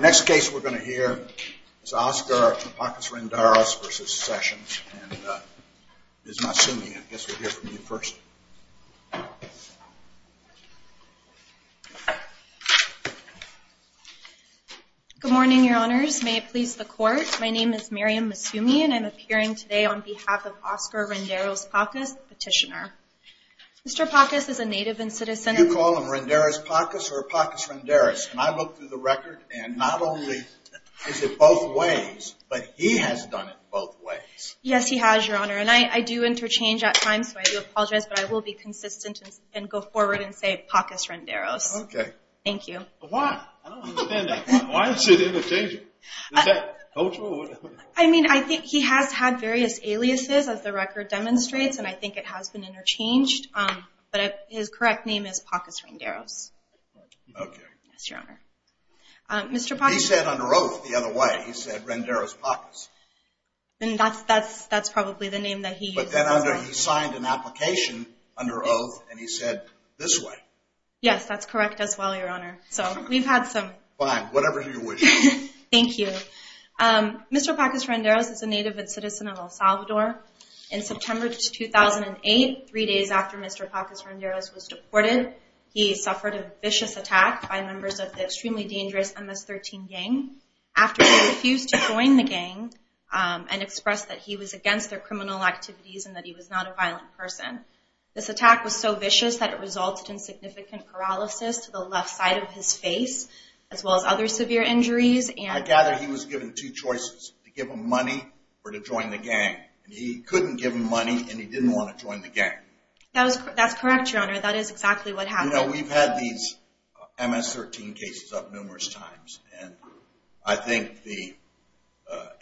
Next case we're going to hear is Oscar Pacas-Renderos v. Sessions and Ms. Masumi. I guess we'll hear from you first. Good morning, your honors. May it please the court, my name is Miriam Masumi and I'm appearing today on behalf of Oscar Renderos Pacas, petitioner. Mr. Pacas is a native and citizen. You call him Renderos Pacas or Pacas-Renderos? And I looked through the record and not only is it both ways, but he has done it both ways. Yes, he has, your honor. And I do interchange at times, so I do apologize, but I will be consistent and go forward and say Pacas-Renderos. Okay. Thank you. Why? I don't understand that. Why is it interchanging? Is that cultural or whatever? I mean, I think he has had various aliases as the record demonstrates and I think it has been interchanged, but his correct name is Pacas-Renderos. Okay. Yes, your honor. Mr. Pacas- He said under oath the other way. He said Renderos Pacas. That's probably the name that he used. But then he signed an application under oath and he said this way. Yes, that's correct as well, your honor. So we've had some- Fine, whatever you wish. Thank you. Mr. Pacas-Renderos is a native and citizen of El Salvador. In September 2008, three days after Mr. Pacas-Renderos was deported, he suffered a vicious attack by members of the extremely dangerous MS-13 gang. After he refused to join the gang and expressed that he was against their criminal activities and that he was not a violent person, this attack was so vicious that it resulted in significant paralysis to the left side of his face as well as other severe injuries and- I gather he was given two choices, to give him money or to join the gang. He couldn't give him money and he didn't want to join the gang. That's correct, your honor. That is exactly what happened. I know we've had these MS-13 cases up numerous times and I think the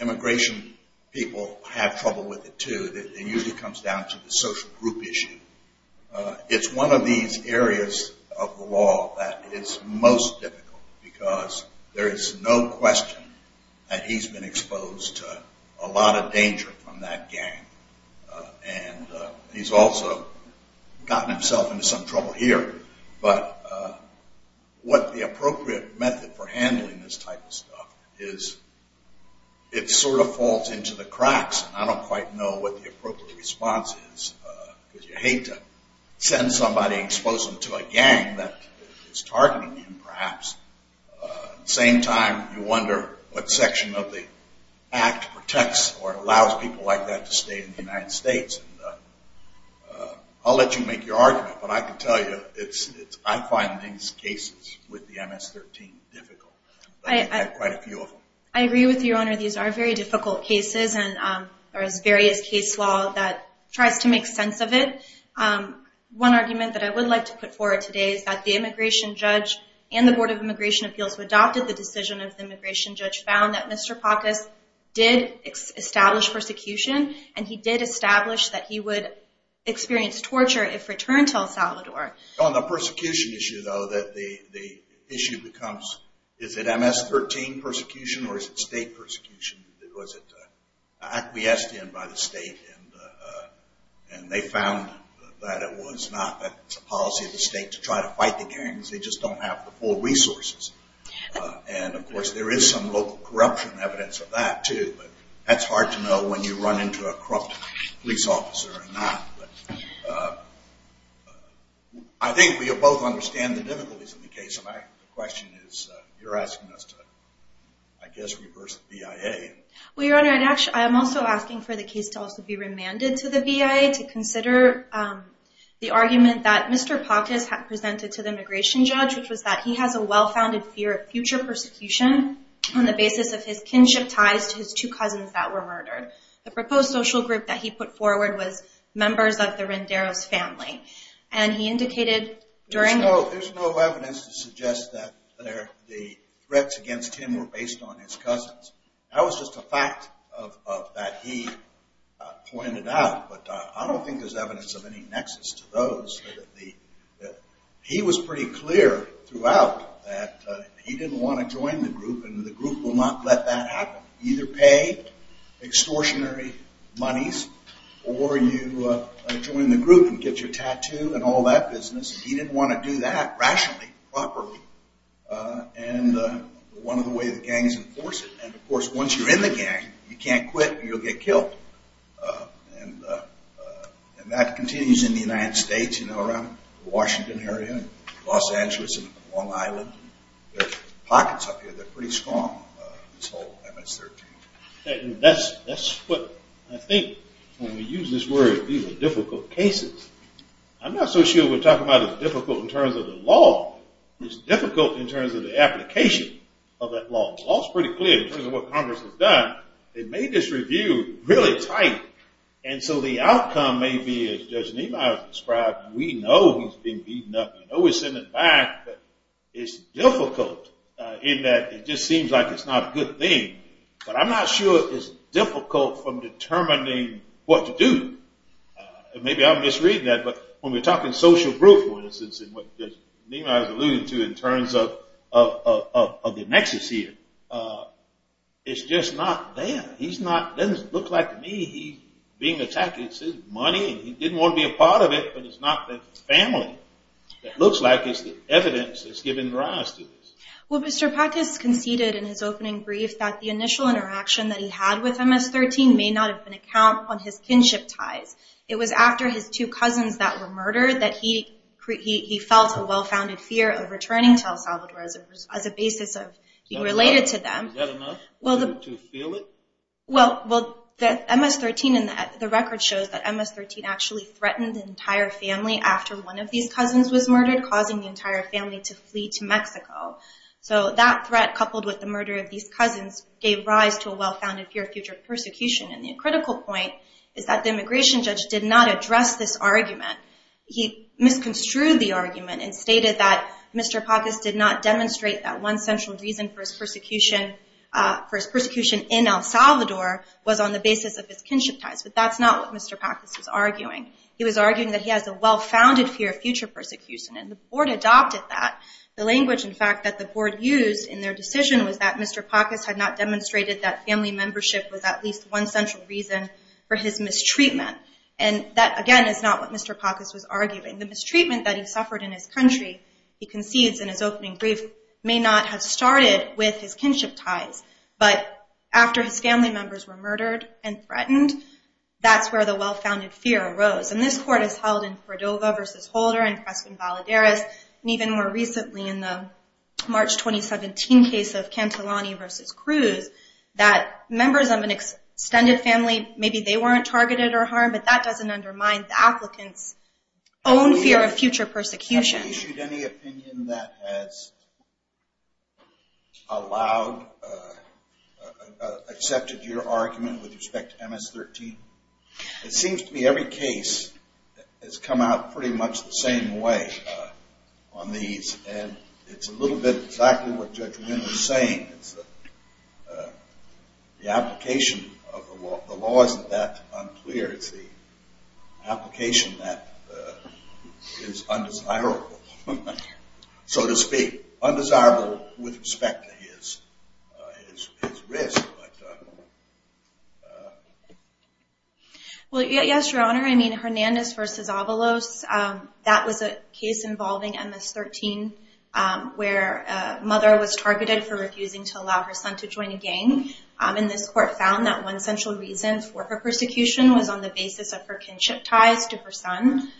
immigration people have trouble with it too. It usually comes down to the social group issue. It's one of these areas of the law that is most difficult because there is no question that he's been exposed to a lot of danger from that gang and he's also gotten himself into some trouble here. But what the appropriate method for handling this type of stuff is, it sort of falls into the cracks. I don't quite know what the appropriate response is because you hate to send somebody exposed to a gang that is targeting him perhaps. At the same time, you wonder what section of the act protects or allows people like that to stay in the United States. I'll let you make your argument, but I can tell you I find these cases with the MS-13 difficult. I've had quite a few of them. I agree with you, your honor. These are very difficult cases and there is various case law that tries to make sense of it. One argument that I would like to put forward today is that the immigration judge and the Board of Immigration Appeals who adopted the decision of the immigration judge found that Mr. Pacas did establish persecution and he did establish that he would experience torture if returned to El Salvador. On the persecution issue though, the issue becomes, is it MS-13 persecution or is it state persecution? Was it acquiesced in by the state and they found that it was not a policy of the state to try to fight the gangs, they just don't have the full resources. And of course there is some local corruption evidence of that too, but that's hard to know when you run into a corrupt police officer or not. I think we both understand the difficulties of the case. My question is, you're asking us to, I guess, reverse the BIA. Well, your honor, I am also asking for the case to also be remanded to the BIA to consider the argument that Mr. Pacas presented to the immigration judge which was that he has a well-founded fear of future persecution on the basis of his kinship ties to his two cousins that were murdered. The proposed social group that he put forward was members of the Renderos family. There's no evidence to suggest that the threats against him were based on his cousins. That was just a fact that he pointed out, but I don't think there's evidence of any nexus to those. He was pretty clear throughout that he didn't want to join the group and the group will not let that happen. You either pay extortionary monies or you join the group and get your tattoo and all that business. He didn't want to do that rationally, properly, and one of the ways the gangs enforce it. And, of course, once you're in the gang, you can't quit or you'll get killed. And that continues in the United States, around the Washington area and Los Angeles and Long Island. There's pockets up here that are pretty strong. That's what I think when we use this word, difficult cases. I'm not so sure we're talking about it as difficult in terms of the law. It's difficult in terms of the application of that law. The law is pretty clear in terms of what Congress has done. They made this review really tight, and so the outcome may be as Judge Niemeyer described, we know he's been beaten up. We know he's in the back, but it's difficult in that it just seems like it's not a good thing. But I'm not sure it's difficult from determining what to do. Maybe I'm misreading that, but when we're talking social group, for instance, and what Niemeyer is alluding to in terms of the nexus here, it's just not there. It doesn't look like to me he's being attacked. It's his money, and he didn't want to be a part of it, but it's not the family. It looks like it's the evidence that's given rise to this. Well, Mr. Pacas conceded in his opening brief that the initial interaction that he had with MS-13 may not have been a count on his kinship ties. It was after his two cousins that were murdered that he felt a well-founded fear of returning to El Salvador as a basis of being related to them. Is that enough to feel it? Well, MS-13 and the record shows that MS-13 actually threatened the entire family after one of these cousins was murdered, causing the entire family to flee to Mexico. So that threat, coupled with the murder of these cousins, gave rise to a well-founded fear of future persecution. And the critical point is that the immigration judge did not address this argument. He misconstrued the argument and stated that Mr. Pacas did not demonstrate that one central reason for his persecution in El Salvador was on the basis of his kinship ties. But that's not what Mr. Pacas was arguing. He was arguing that he has a well-founded fear of future persecution, and the board adopted that. The language, in fact, that the board used in their decision was that Mr. Pacas had not demonstrated that family membership was at least one central reason for his mistreatment. And that, again, is not what Mr. Pacas was arguing. The mistreatment that he suffered in his country, he concedes in his opening brief, may not have started with his kinship ties. But after his family members were murdered and threatened, that's where the well-founded fear arose. And this court has held in Cordova v. Holder and Creston-Valadares, and even more recently in the March 2017 case of Cantilani v. Cruz, that members of an extended family, maybe they weren't targeted or harmed, but that doesn't undermine the applicant's own fear of future persecution. Have you issued any opinion that has allowed, accepted your argument with respect to MS-13? It seems to me every case has come out pretty much the same way on these, and it's a little bit exactly what Judge Winn was saying. The application of the law isn't that unclear. It's the application that is undesirable, so to speak. Undesirable with respect to his risk. Well, yes, Your Honor. I mean, Hernandez v. Avalos, that was a case involving MS-13 where a mother was targeted for refusing to allow her son to join a gang, and this court found that one central reason for her persecution was on the basis of her kinship ties to her son.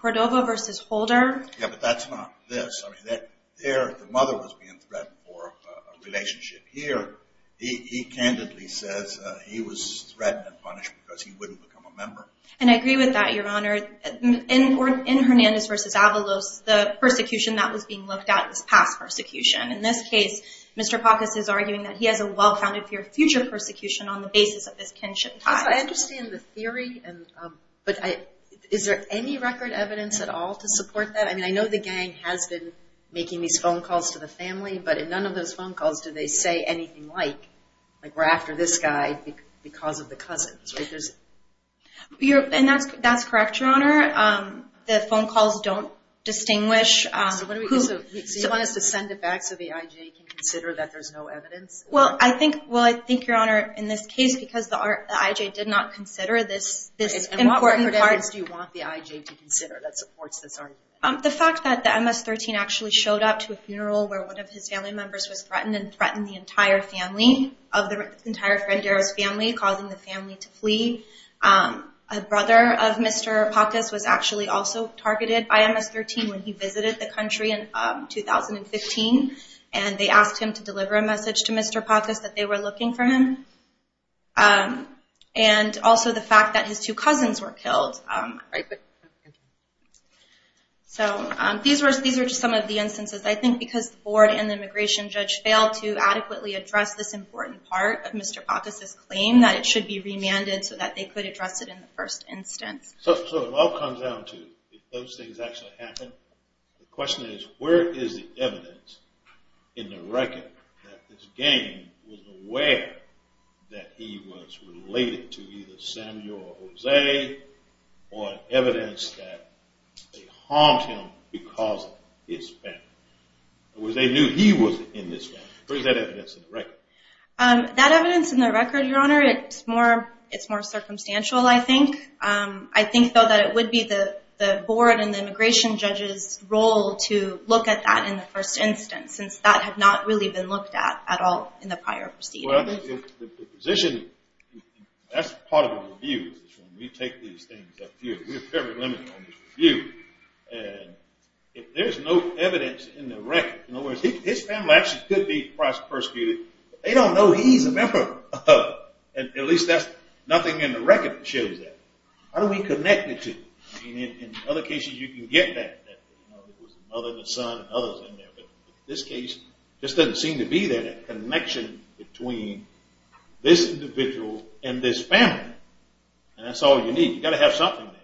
Cordova v. Holder. Yeah, but that's not this. The mother was being threatened for a relationship here. He candidly says he was threatened and punished because he wouldn't become a member. And I agree with that, Your Honor. In Hernandez v. Avalos, the persecution that was being looked at was past persecution. In this case, Mr. Pacas is arguing that he has a well-founded fear of future persecution on the basis of his kinship ties. I understand the theory, but is there any record evidence at all to support that? I mean, I know the gang has been making these phone calls to the family, but in none of those phone calls do they say anything like, like, we're after this guy because of the cousins. And that's correct, Your Honor. The phone calls don't distinguish. So you want us to send it back so the IJ can consider that there's no evidence? Well, I think, Your Honor, in this case, because the IJ did not consider this important part. And what record evidence do you want the IJ to consider that supports this argument? The fact that the MS-13 actually showed up to a funeral where one of his family members was threatened and threatened the entire family, of the entire Frenderos family, causing the family to flee. A brother of Mr. Pacas was actually also targeted by MS-13 when he visited the country in 2015, and they asked him to deliver a message to Mr. Pacas that they were looking for him. And also the fact that his two cousins were killed. So these are just some of the instances. I think because the board and the immigration judge failed to adequately address this important part of Mr. Pacas' claim that it should be remanded so that they could address it in the first instance. So it all comes down to, if those things actually happened, the question is, where is the evidence in the record that this gang was aware that he was related to either Samuel or Jose, or evidence that they harmed him because of his family? Jose knew he was in this gang. Where is that evidence in the record? That evidence in the record, Your Honor, it's more circumstantial, I think. I think, though, that it would be the board and the immigration judge's role to look at that in the first instance, since that had not really been looked at at all in the prior proceeding. Well, the position, that's part of the review, is when we take these things up here. We're fairly limited on this review. And if there's no evidence in the record, in other words, his family actually could be Christ persecuted, but they don't know he's a member of them. At least nothing in the record shows that. How do we connect the two? In other cases, you can get that, that there was a mother and a son and others in there. But in this case, it just doesn't seem to be there, that connection between this individual and this family. And that's all you need. You've got to have something there.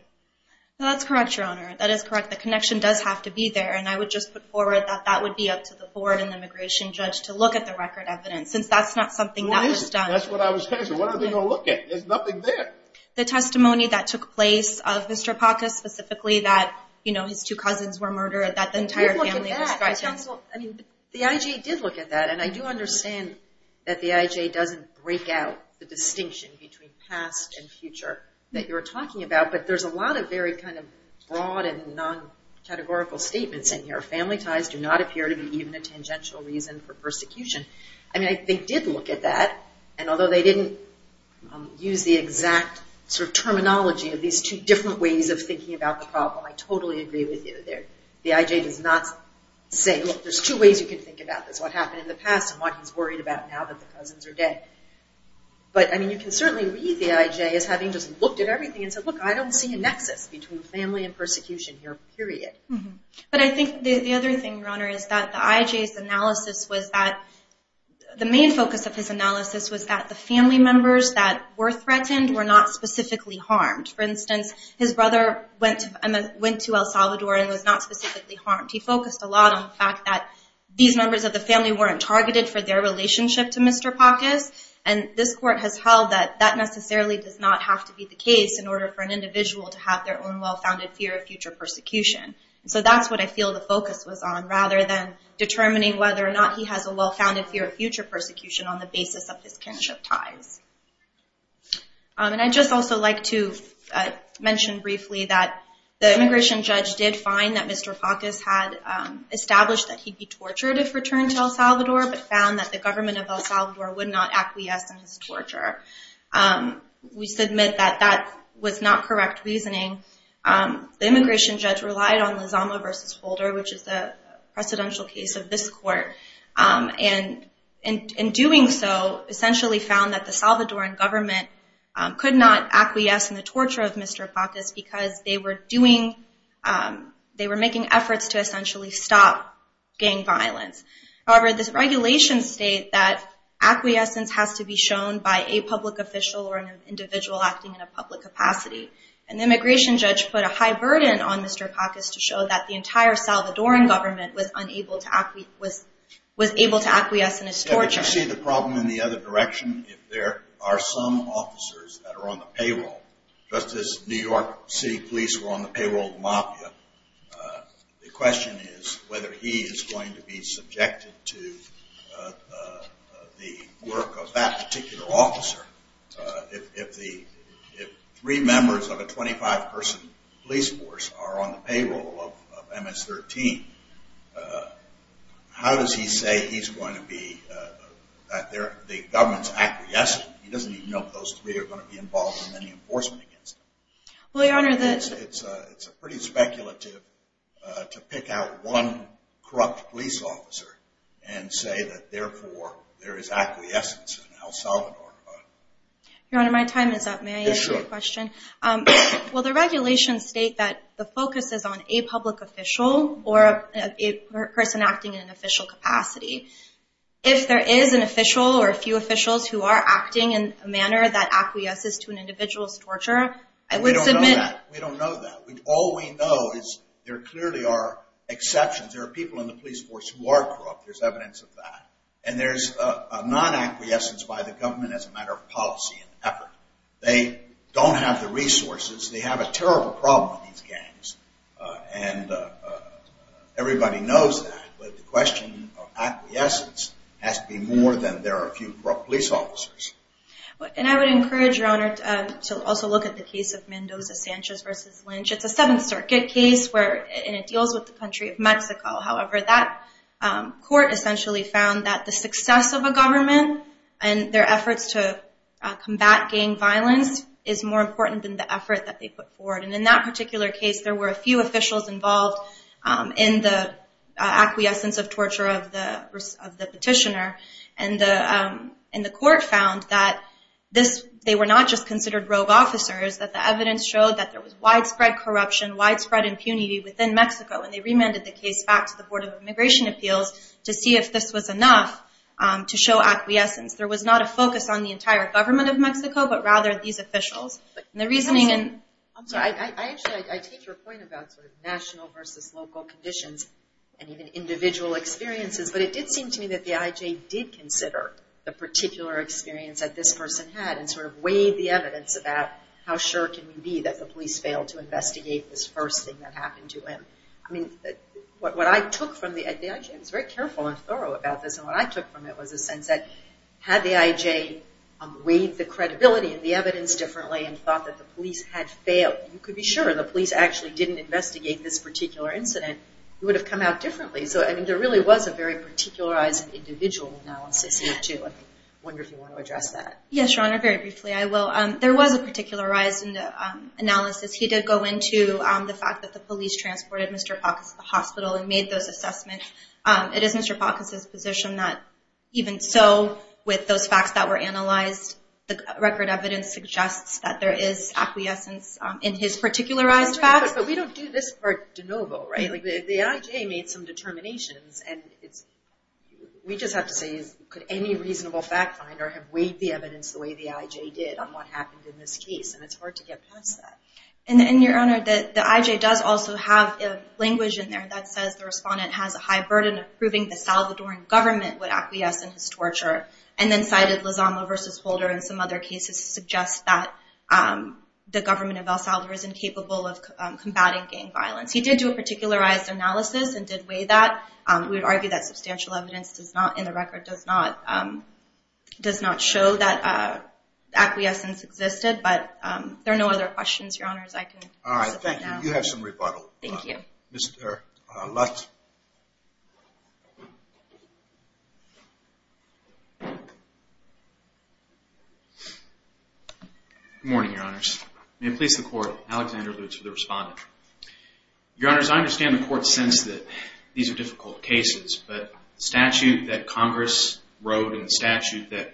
That's correct, Your Honor. That is correct. The connection does have to be there, and I would just put forward that that would be up to the board and the immigration judge to look at the record evidence, since that's not something that was done. That's what I was saying. What are they going to look at? There's nothing there. The testimony that took place of Mr. Pacas specifically, that his two cousins were murdered, that the entire family was persecuted. I mean, the IJ did look at that, and I do understand that the IJ doesn't break out the distinction between past and future that you're talking about, but there's a lot of very kind of broad and non-categorical statements in here. Family ties do not appear to be even a tangential reason for persecution. I mean, they did look at that, and although they didn't use the exact sort of terminology of these two different ways of thinking about the problem, I totally agree with you there. The IJ does not say, look, there's two ways you can think about this, what happened in the past and what he's worried about now that the cousins are dead. But, I mean, you can certainly read the IJ as having just looked at everything and said, look, I don't see a nexus between family and persecution here, period. But I think the other thing, Your Honor, is that the IJ's analysis was that, the main focus of his analysis was that the family members that were threatened were not specifically harmed. For instance, his brother went to El Salvador and was not specifically harmed. He focused a lot on the fact that these members of the family weren't targeted for their relationship to Mr. Pacas, and this court has held that that necessarily does not have to be the case in order for an individual to have their own well-founded fear of future persecution. So that's what I feel the focus was on, rather than determining whether or not he has a well-founded fear of future persecution on the basis of his kinship ties. And I'd just also like to mention briefly that the immigration judge did find that Mr. Pacas had established that he'd be tortured if returned to El Salvador, but found that the government of El Salvador would not acquiesce in his torture. We submit that that was not correct reasoning. The immigration judge relied on Lozano v. Holder, which is the precedential case of this court, and in doing so essentially found that the Salvadoran government could not acquiesce in the torture of Mr. Pacas because they were making efforts to essentially stop gang violence. However, the regulations state that acquiescence has to be shown by a public official or an individual acting in a public capacity. An immigration judge put a high burden on Mr. Pacas to show that the entire was able to acquiesce in his torture. But you see the problem in the other direction. If there are some officers that are on the payroll, just as New York City police were on the payroll of the mafia, the question is whether he is going to be subjected to the work of that particular officer. If three members of a 25-person police force are on the payroll of MS-13, how does he say he's going to be at the government's acquiescence? He doesn't even know if those three are going to be involved in any enforcement. It's pretty speculative to pick out one corrupt police officer and say that, therefore, there is acquiescence in El Salvador. Your Honor, my time is up. May I ask a question? Yes, sure. Well, the regulations state that the focus is on a public official or a person acting in an official capacity. If there is an official or a few officials who are acting in a manner that acquiesces to an individual's torture, I would submit… We don't know that. We don't know that. All we know is there clearly are exceptions. There are people in the police force who are corrupt. There's evidence of that. And there's a non-acquiescence by the government as a matter of policy and effort. They don't have the resources. They have a terrible problem with these gangs, and everybody knows that. But the question of acquiescence has to be more than there are a few corrupt police officers. And I would encourage, Your Honor, to also look at the case of Mendoza-Sanchez v. Lynch. It's a Seventh Circuit case, and it deals with the country of Mexico. However, that court essentially found that the success of a government and their efforts to combat gang violence is more important than the effort that they put forward. And in that particular case, there were a few officials involved in the acquiescence of torture of the petitioner. And the court found that they were not just considered rogue officers, that the evidence showed that there was widespread corruption, widespread impunity within Mexico. And they remanded the case back to the Board of Immigration Appeals to see if this was enough to show acquiescence. There was not a focus on the entire government of Mexico, but rather these officials. And the reasoning in... I'm sorry, I actually, I take your point about sort of national versus local conditions and even individual experiences, but it did seem to me that the I.J. did consider the particular experience that this person had and sort of weighed the evidence about how sure can we be that the police failed to investigate this first thing that happened to him. I mean, what I took from the... the I.J. was very careful and thorough about this. And what I took from it was a sense that had the I.J. weighed the credibility and the evidence differently and thought that the police had failed, you could be sure the police actually didn't investigate this particular incident, it would have come out differently. So, I mean, there really was a very particularized individual analysis here, too. I wonder if you want to address that. Yes, Your Honor, very briefly I will. There was a particularized analysis. He did go into the fact that the police transported Mr. Palkus to the hospital and made those assessments. It is Mr. Palkus's position that even so, with those facts that were analyzed, the record evidence suggests that there is acquiescence in his particularized facts. But we don't do this part de novo, right? The I.J. made some determinations, and we just have to say, could any reasonable fact finder have weighed the evidence the way the I.J. did on what happened in this case? And it's hard to get past that. And, Your Honor, the I.J. does also have language in there that says the respondent has a high burden of proving the Salvadoran government would acquiesce in his torture, and then cited Lozano v. Holder and some other cases to suggest that the government of El Salvador is incapable of combating gang violence. He did do a particularized analysis and did weigh that. We would argue that substantial evidence in the record does not show that acquiescence existed, but there are no other questions, Your Honors. All right, thank you. You have some rebuttal. Thank you. Mr. Lutz. Good morning, Your Honors. May it please the Court, Alexander Lutz for the respondent. Your Honors, I understand the Court's sense that these are difficult cases, but the statute that Congress wrote and the statute that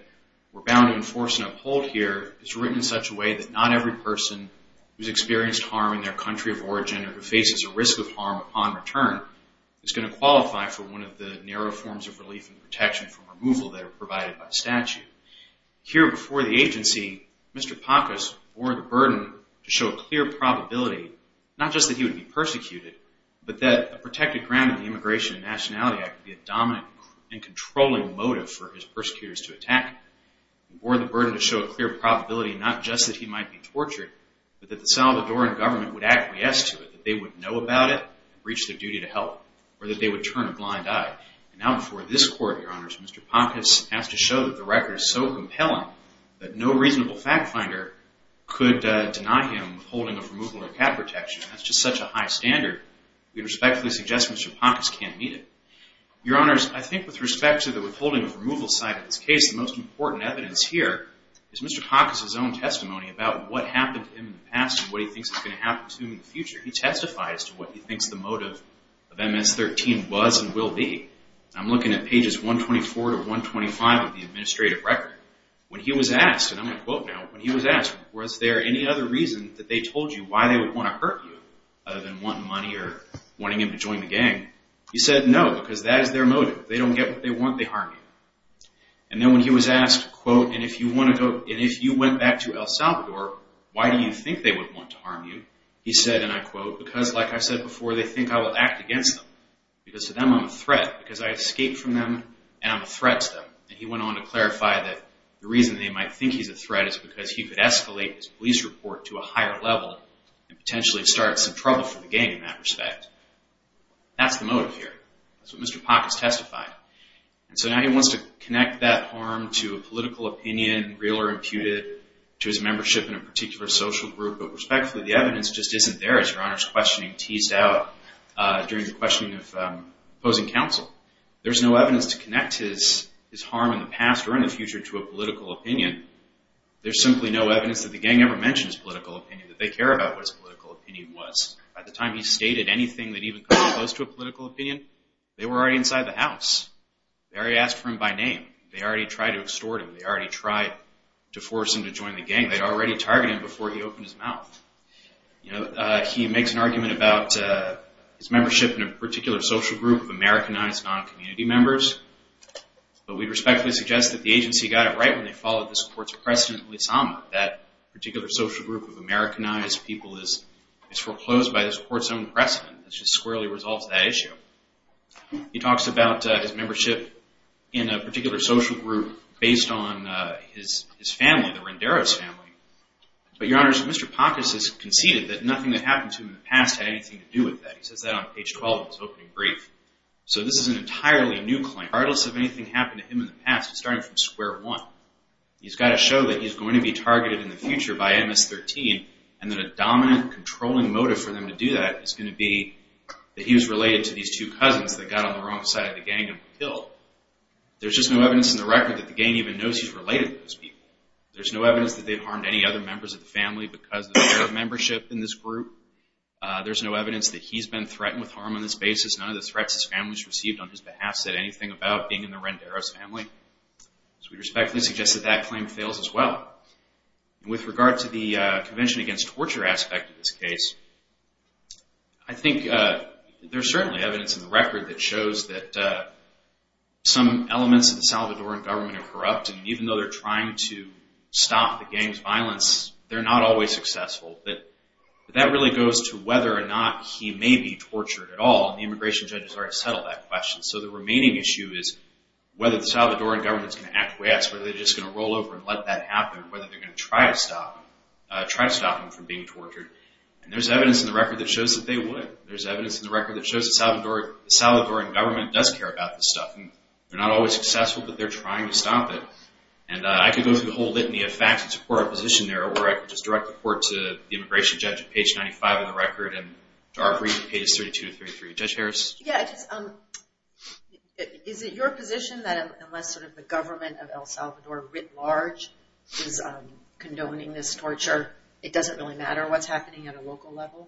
we're bound to enforce and uphold here is written in such a way that not every person who's experienced harm in their country of origin or who faces a risk of harm upon return is going to qualify for one of the narrow forms of relief and protection from removal that are provided by statute. Here before the agency, Mr. Pacos bore the burden to show clear probability, not just that he would be persecuted, but that a protected ground in the Immigration and Nationality Act would be a dominant and controlling motive for his persecutors to attack him. He bore the burden to show a clear probability, not just that he might be tortured, but that the Salvadoran government would acquiesce to it, that they would know about it and reach their duty to help, or that they would turn a blind eye. Now before this Court, Your Honors, Mr. Pacos has to show that the record is so compelling that no reasonable fact finder could deny him withholding of removal or cap protection. That's just such a high standard. We respectfully suggest Mr. Pacos can't meet it. Your Honors, I think with respect to the withholding of removal side of this case, the most important evidence here is Mr. Pacos' own testimony about what happened to him in the past and what he thinks is going to happen to him in the future. He testified as to what he thinks the motive of MS-13 was and will be. I'm looking at pages 124 to 125 of the administrative record. When he was asked, and I'm going to quote now, when he was asked, was there any other reason that they told you why they would want to hurt you other than wanting money or wanting him to join the gang, he said no, because that is their motive. They don't get what they want, they harm you. And then when he was asked, quote, and if you went back to El Salvador, why do you think they would want to harm you? He said, and I quote, because like I said before, they think I will act against them. Because to them I'm a threat. Because I escaped from them and I'm a threat to them. And he went on to clarify that the reason they might think he's a threat is because he could escalate his police report to a higher level and potentially start some trouble for the gang in that respect. That's the motive here. That's what Mr. Pock has testified. And so now he wants to connect that harm to a political opinion, real or imputed, to his membership in a particular social group, but respectfully the evidence just isn't there as Your Honor's questioning teased out during your questioning of opposing counsel. There's no evidence to connect his harm in the past or in the future to a political opinion. There's simply no evidence that the gang ever mentioned his political opinion, that they care about what his political opinion was. By the time he stated anything that even comes close to a political opinion, they were already inside the house. They already asked for him by name. They already tried to extort him. They already tried to force him to join the gang. They'd already targeted him before he opened his mouth. He makes an argument about his membership in a particular social group, Americanized non-community members, but we respectfully suggest that the agency got it right when they followed this court's precedent. That particular social group of Americanized people is foreclosed by this court's own precedent. It just squarely resolves that issue. He talks about his membership in a particular social group based on his family, the Renderos family. But Your Honor, Mr. Pock has conceded that nothing that happened to him in the past had anything to do with that. He says that on page 12 of his opening brief. So this is an entirely new claim. Regardless of anything happened to him in the past, it started from square one. He's got to show that he's going to be targeted in the future by MS-13, and that a dominant controlling motive for them to do that is going to be that he was related to these two cousins that got on the wrong side of the gang and were killed. There's just no evidence in the record that the gang even knows he's related to those people. There's no evidence that they've harmed any other members of the family because of their membership in this group. There's no evidence that he's been threatened with harm on this basis. None of the threats his family's received on his behalf said anything about being in the Renderos family. So we respectfully suggest that that claim fails as well. With regard to the Convention Against Torture aspect of this case, I think there's certainly evidence in the record that shows that some elements of the Salvadoran government are corrupt, and even though they're trying to stop the gang's violence, they're not always successful. But that really goes to whether or not he may be tortured at all, and the immigration judges already settled that question. So the remaining issue is whether the Salvadoran government is going to act quick, whether they're just going to roll over and let that happen, whether they're going to try to stop him from being tortured. And there's evidence in the record that shows that they would. There's evidence in the record that shows the Salvadoran government does care about this stuff. They're not always successful, but they're trying to stop it. And I could go through the whole litany of facts and support our position there, or I could just direct the court to the immigration judge at page 95 of the record, and to our brief at page 32 or 33. Judge Harris? Yeah, is it your position that unless sort of the government of El Salvador writ large is condoning this torture, it doesn't really matter what's happening at a local level?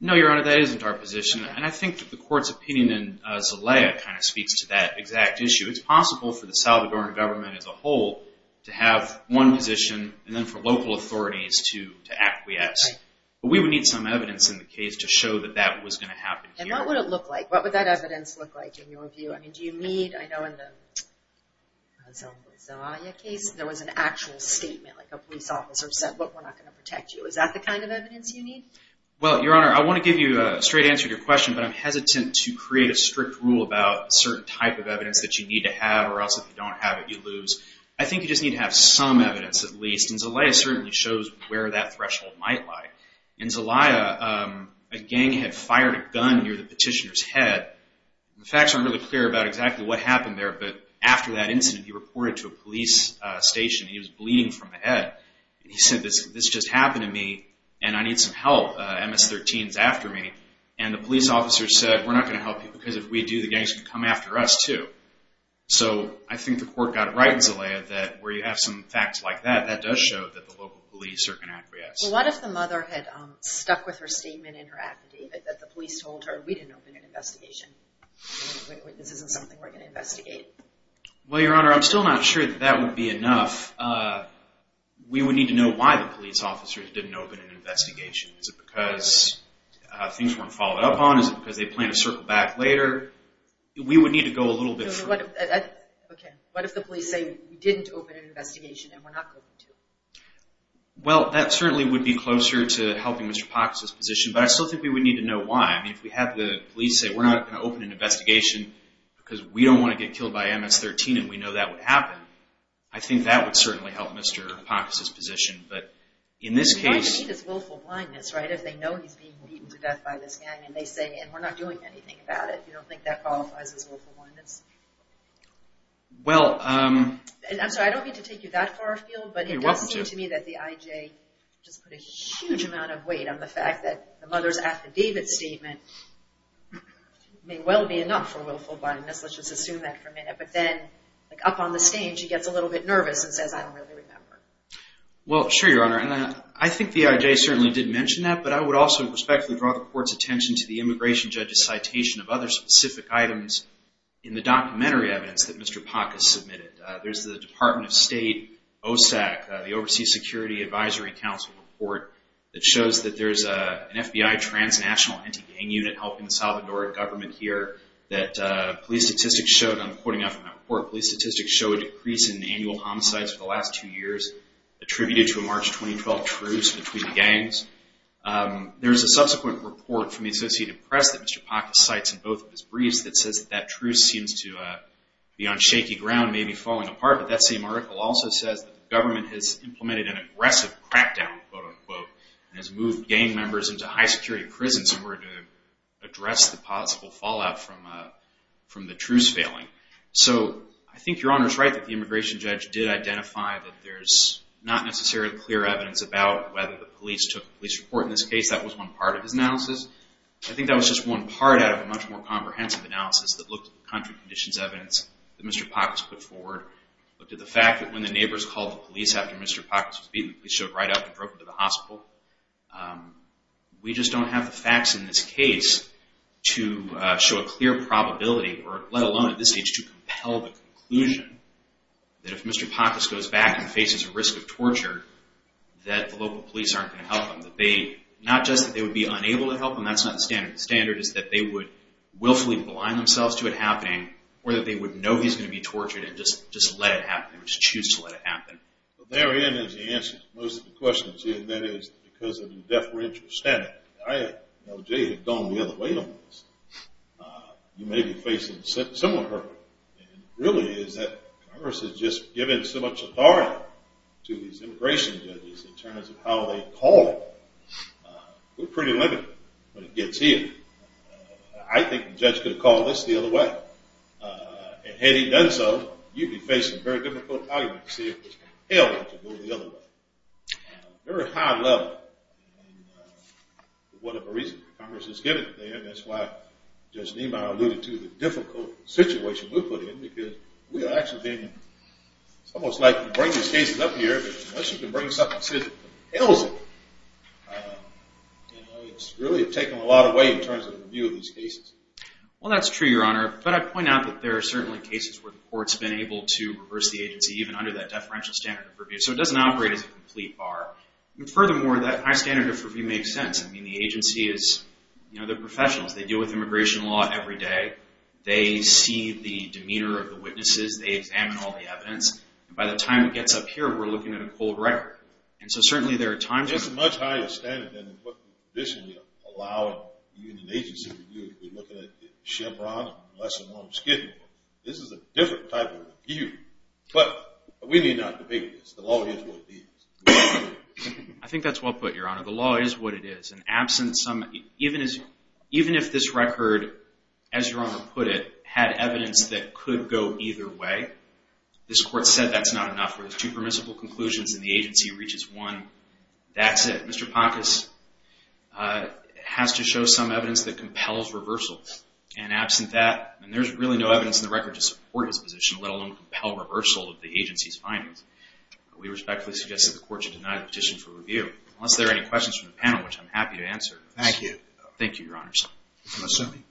No, Your Honor, that isn't our position. And I think the court's opinion in Zelaya kind of speaks to that exact issue. It's possible for the Salvadoran government as a whole to have one position, and then for local authorities to acquiesce. But we would need some evidence in the case to show that that was going to happen here. And what would it look like? What would that evidence look like in your view? I mean, do you need, I know in the Zelaya case, there was an actual statement, like a police officer said, look, we're not going to protect you. Is that the kind of evidence you need? Well, Your Honor, I want to give you a straight answer to your question, but I'm hesitant to create a strict rule about a certain type of evidence that you need to have, or else if you don't have it, you lose. I think you just need to have some evidence at least, and Zelaya certainly shows where that threshold might lie. In Zelaya, a gang had fired a gun near the petitioner's head. The facts aren't really clear about exactly what happened there, but after that incident, he reported to a police station. He was bleeding from the head. He said, this just happened to me, and I need some help. MS-13's after me, and the police officer said, we're not going to help you because if we do, the gangs can come after us too. So I think the court got it right in Zelaya that where you have some facts like that, that does show that the local police are going to acquiesce. Well, what if the mother had stuck with her statement in her affidavit, that the police told her, we didn't open an investigation, this isn't something we're going to investigate? Well, Your Honor, I'm still not sure that that would be enough. We would need to know why the police officers didn't open an investigation. Is it because things weren't followed up on? Is it because they planned to circle back later? We would need to go a little bit further. Okay, what if the police say, we didn't open an investigation and we're not going to? Well, that certainly would be closer to helping Mr. Pox's position, but I still think we would need to know why. I mean, if we have the police say, we're not going to open an investigation because we don't want to get killed by MS-13 and we know that would happen, I think that would certainly help Mr. Pox's position. What you need is willful blindness, right? If they know he's being beaten to death by this gang, and they say, and we're not doing anything about it, you don't think that qualifies as willful blindness? I'm sorry, I don't mean to take you that far afield, but it does seem to me that the IJ just put a huge amount of weight on the fact that the mother's affidavit statement may well be enough for willful blindness. Let's just assume that for a minute. But then, up on the stage, she gets a little bit nervous and says, Well, sure, Your Honor, and I think the IJ certainly did mention that, but I would also respectfully draw the Court's attention to the immigration judge's citation of other specific items in the documentary evidence that Mr. Pox has submitted. There's the Department of State OSAC, the Overseas Security Advisory Council report that shows that there's an FBI transnational anti-gang unit helping the Salvadoran government here that police statistics show, and I'm quoting out from that report, police statistics show a decrease in annual homicides for the last two years attributed to a March 2012 truce between gangs. There's a subsequent report from the Associated Press that Mr. Pox cites in both of his briefs that says that that truce seems to be on shaky ground, maybe falling apart, but that same article also says that the government has implemented an aggressive crackdown, quote-unquote, and has moved gang members into high-security prisons in order to address the possible fallout from the truce failing. So I think Your Honor's right that the immigration judge did identify that there's not necessarily clear evidence about whether the police took a police report. In this case, that was one part of his analysis. I think that was just one part out of a much more comprehensive analysis that looked at the country conditions evidence that Mr. Pox put forward, looked at the fact that when the neighbors called the police after Mr. Pox was beaten, the police showed right up and drove him to the hospital. We just don't have the facts in this case to show a clear probability, let alone at this stage to compel the conclusion that if Mr. Pox goes back and faces a risk of torture, that the local police aren't going to help him. Not just that they would be unable to help him. That's not the standard. The standard is that they would willfully blind themselves to it happening or that they would know he's going to be tortured and just let it happen. They would just choose to let it happen. Therein is the answer to most of the questions. And that is because of the deferential standard. I know Jay had gone the other way on this. You may be facing a similar hurdle. It really is that Congress has just given so much authority to these immigration judges in terms of how they call it. We're pretty limited when it gets here. I think the judge could have called this the other way. And had he done so, you'd be facing very difficult arguments to see if it's hell to go the other way. Very high level. And for whatever reason, Congress has given it there. And that's why Judge Niemeyer alluded to the difficult situation we're put in because we are actually being almost likely to bring these cases up here. But once you can bring something that says it compels it, it's really taken a lot away in terms of the review of these cases. Well, that's true, Your Honor. But I'd point out that there are certainly cases where the court's been able to reverse the agency even under that deferential standard of review. So it doesn't operate as a complete bar. And furthermore, that high standard of review makes sense. I mean, the agency is, you know, they're professionals. They deal with immigration law every day. They see the demeanor of the witnesses. They examine all the evidence. And by the time it gets up here, we're looking at a cold record. And so certainly there are times when... That's a much higher standard than what we traditionally allow a union agency to do. We're looking at Chevron and lesser known Skidmore. This is a different type of review. But we need not debate this. The law is what it is. I think that's well put, Your Honor. The law is what it is. And absent some... Even if this record, as Your Honor put it, had evidence that could go either way, this Court said that's not enough. There's two permissible conclusions and the agency reaches one. That's it. Mr. Poncus has to show some evidence that compels reversal. And absent that, and there's really no evidence in the record to support his position, let alone compel reversal of the agency's findings, we respectfully suggest that the Court should deny the petition for review. Unless there are any questions from the panel, which I'm happy to answer. Thank you. Thank you, Your Honors. I'm assuming.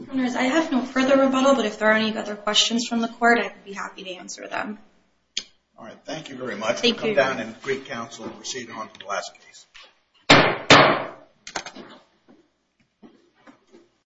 Your Honors, I have no further rebuttal, but if there are any other questions from the Court, I'd be happy to answer them. All right, thank you very much. Thank you. I'll come down and greet counsel and proceed on to the last case. Thank you.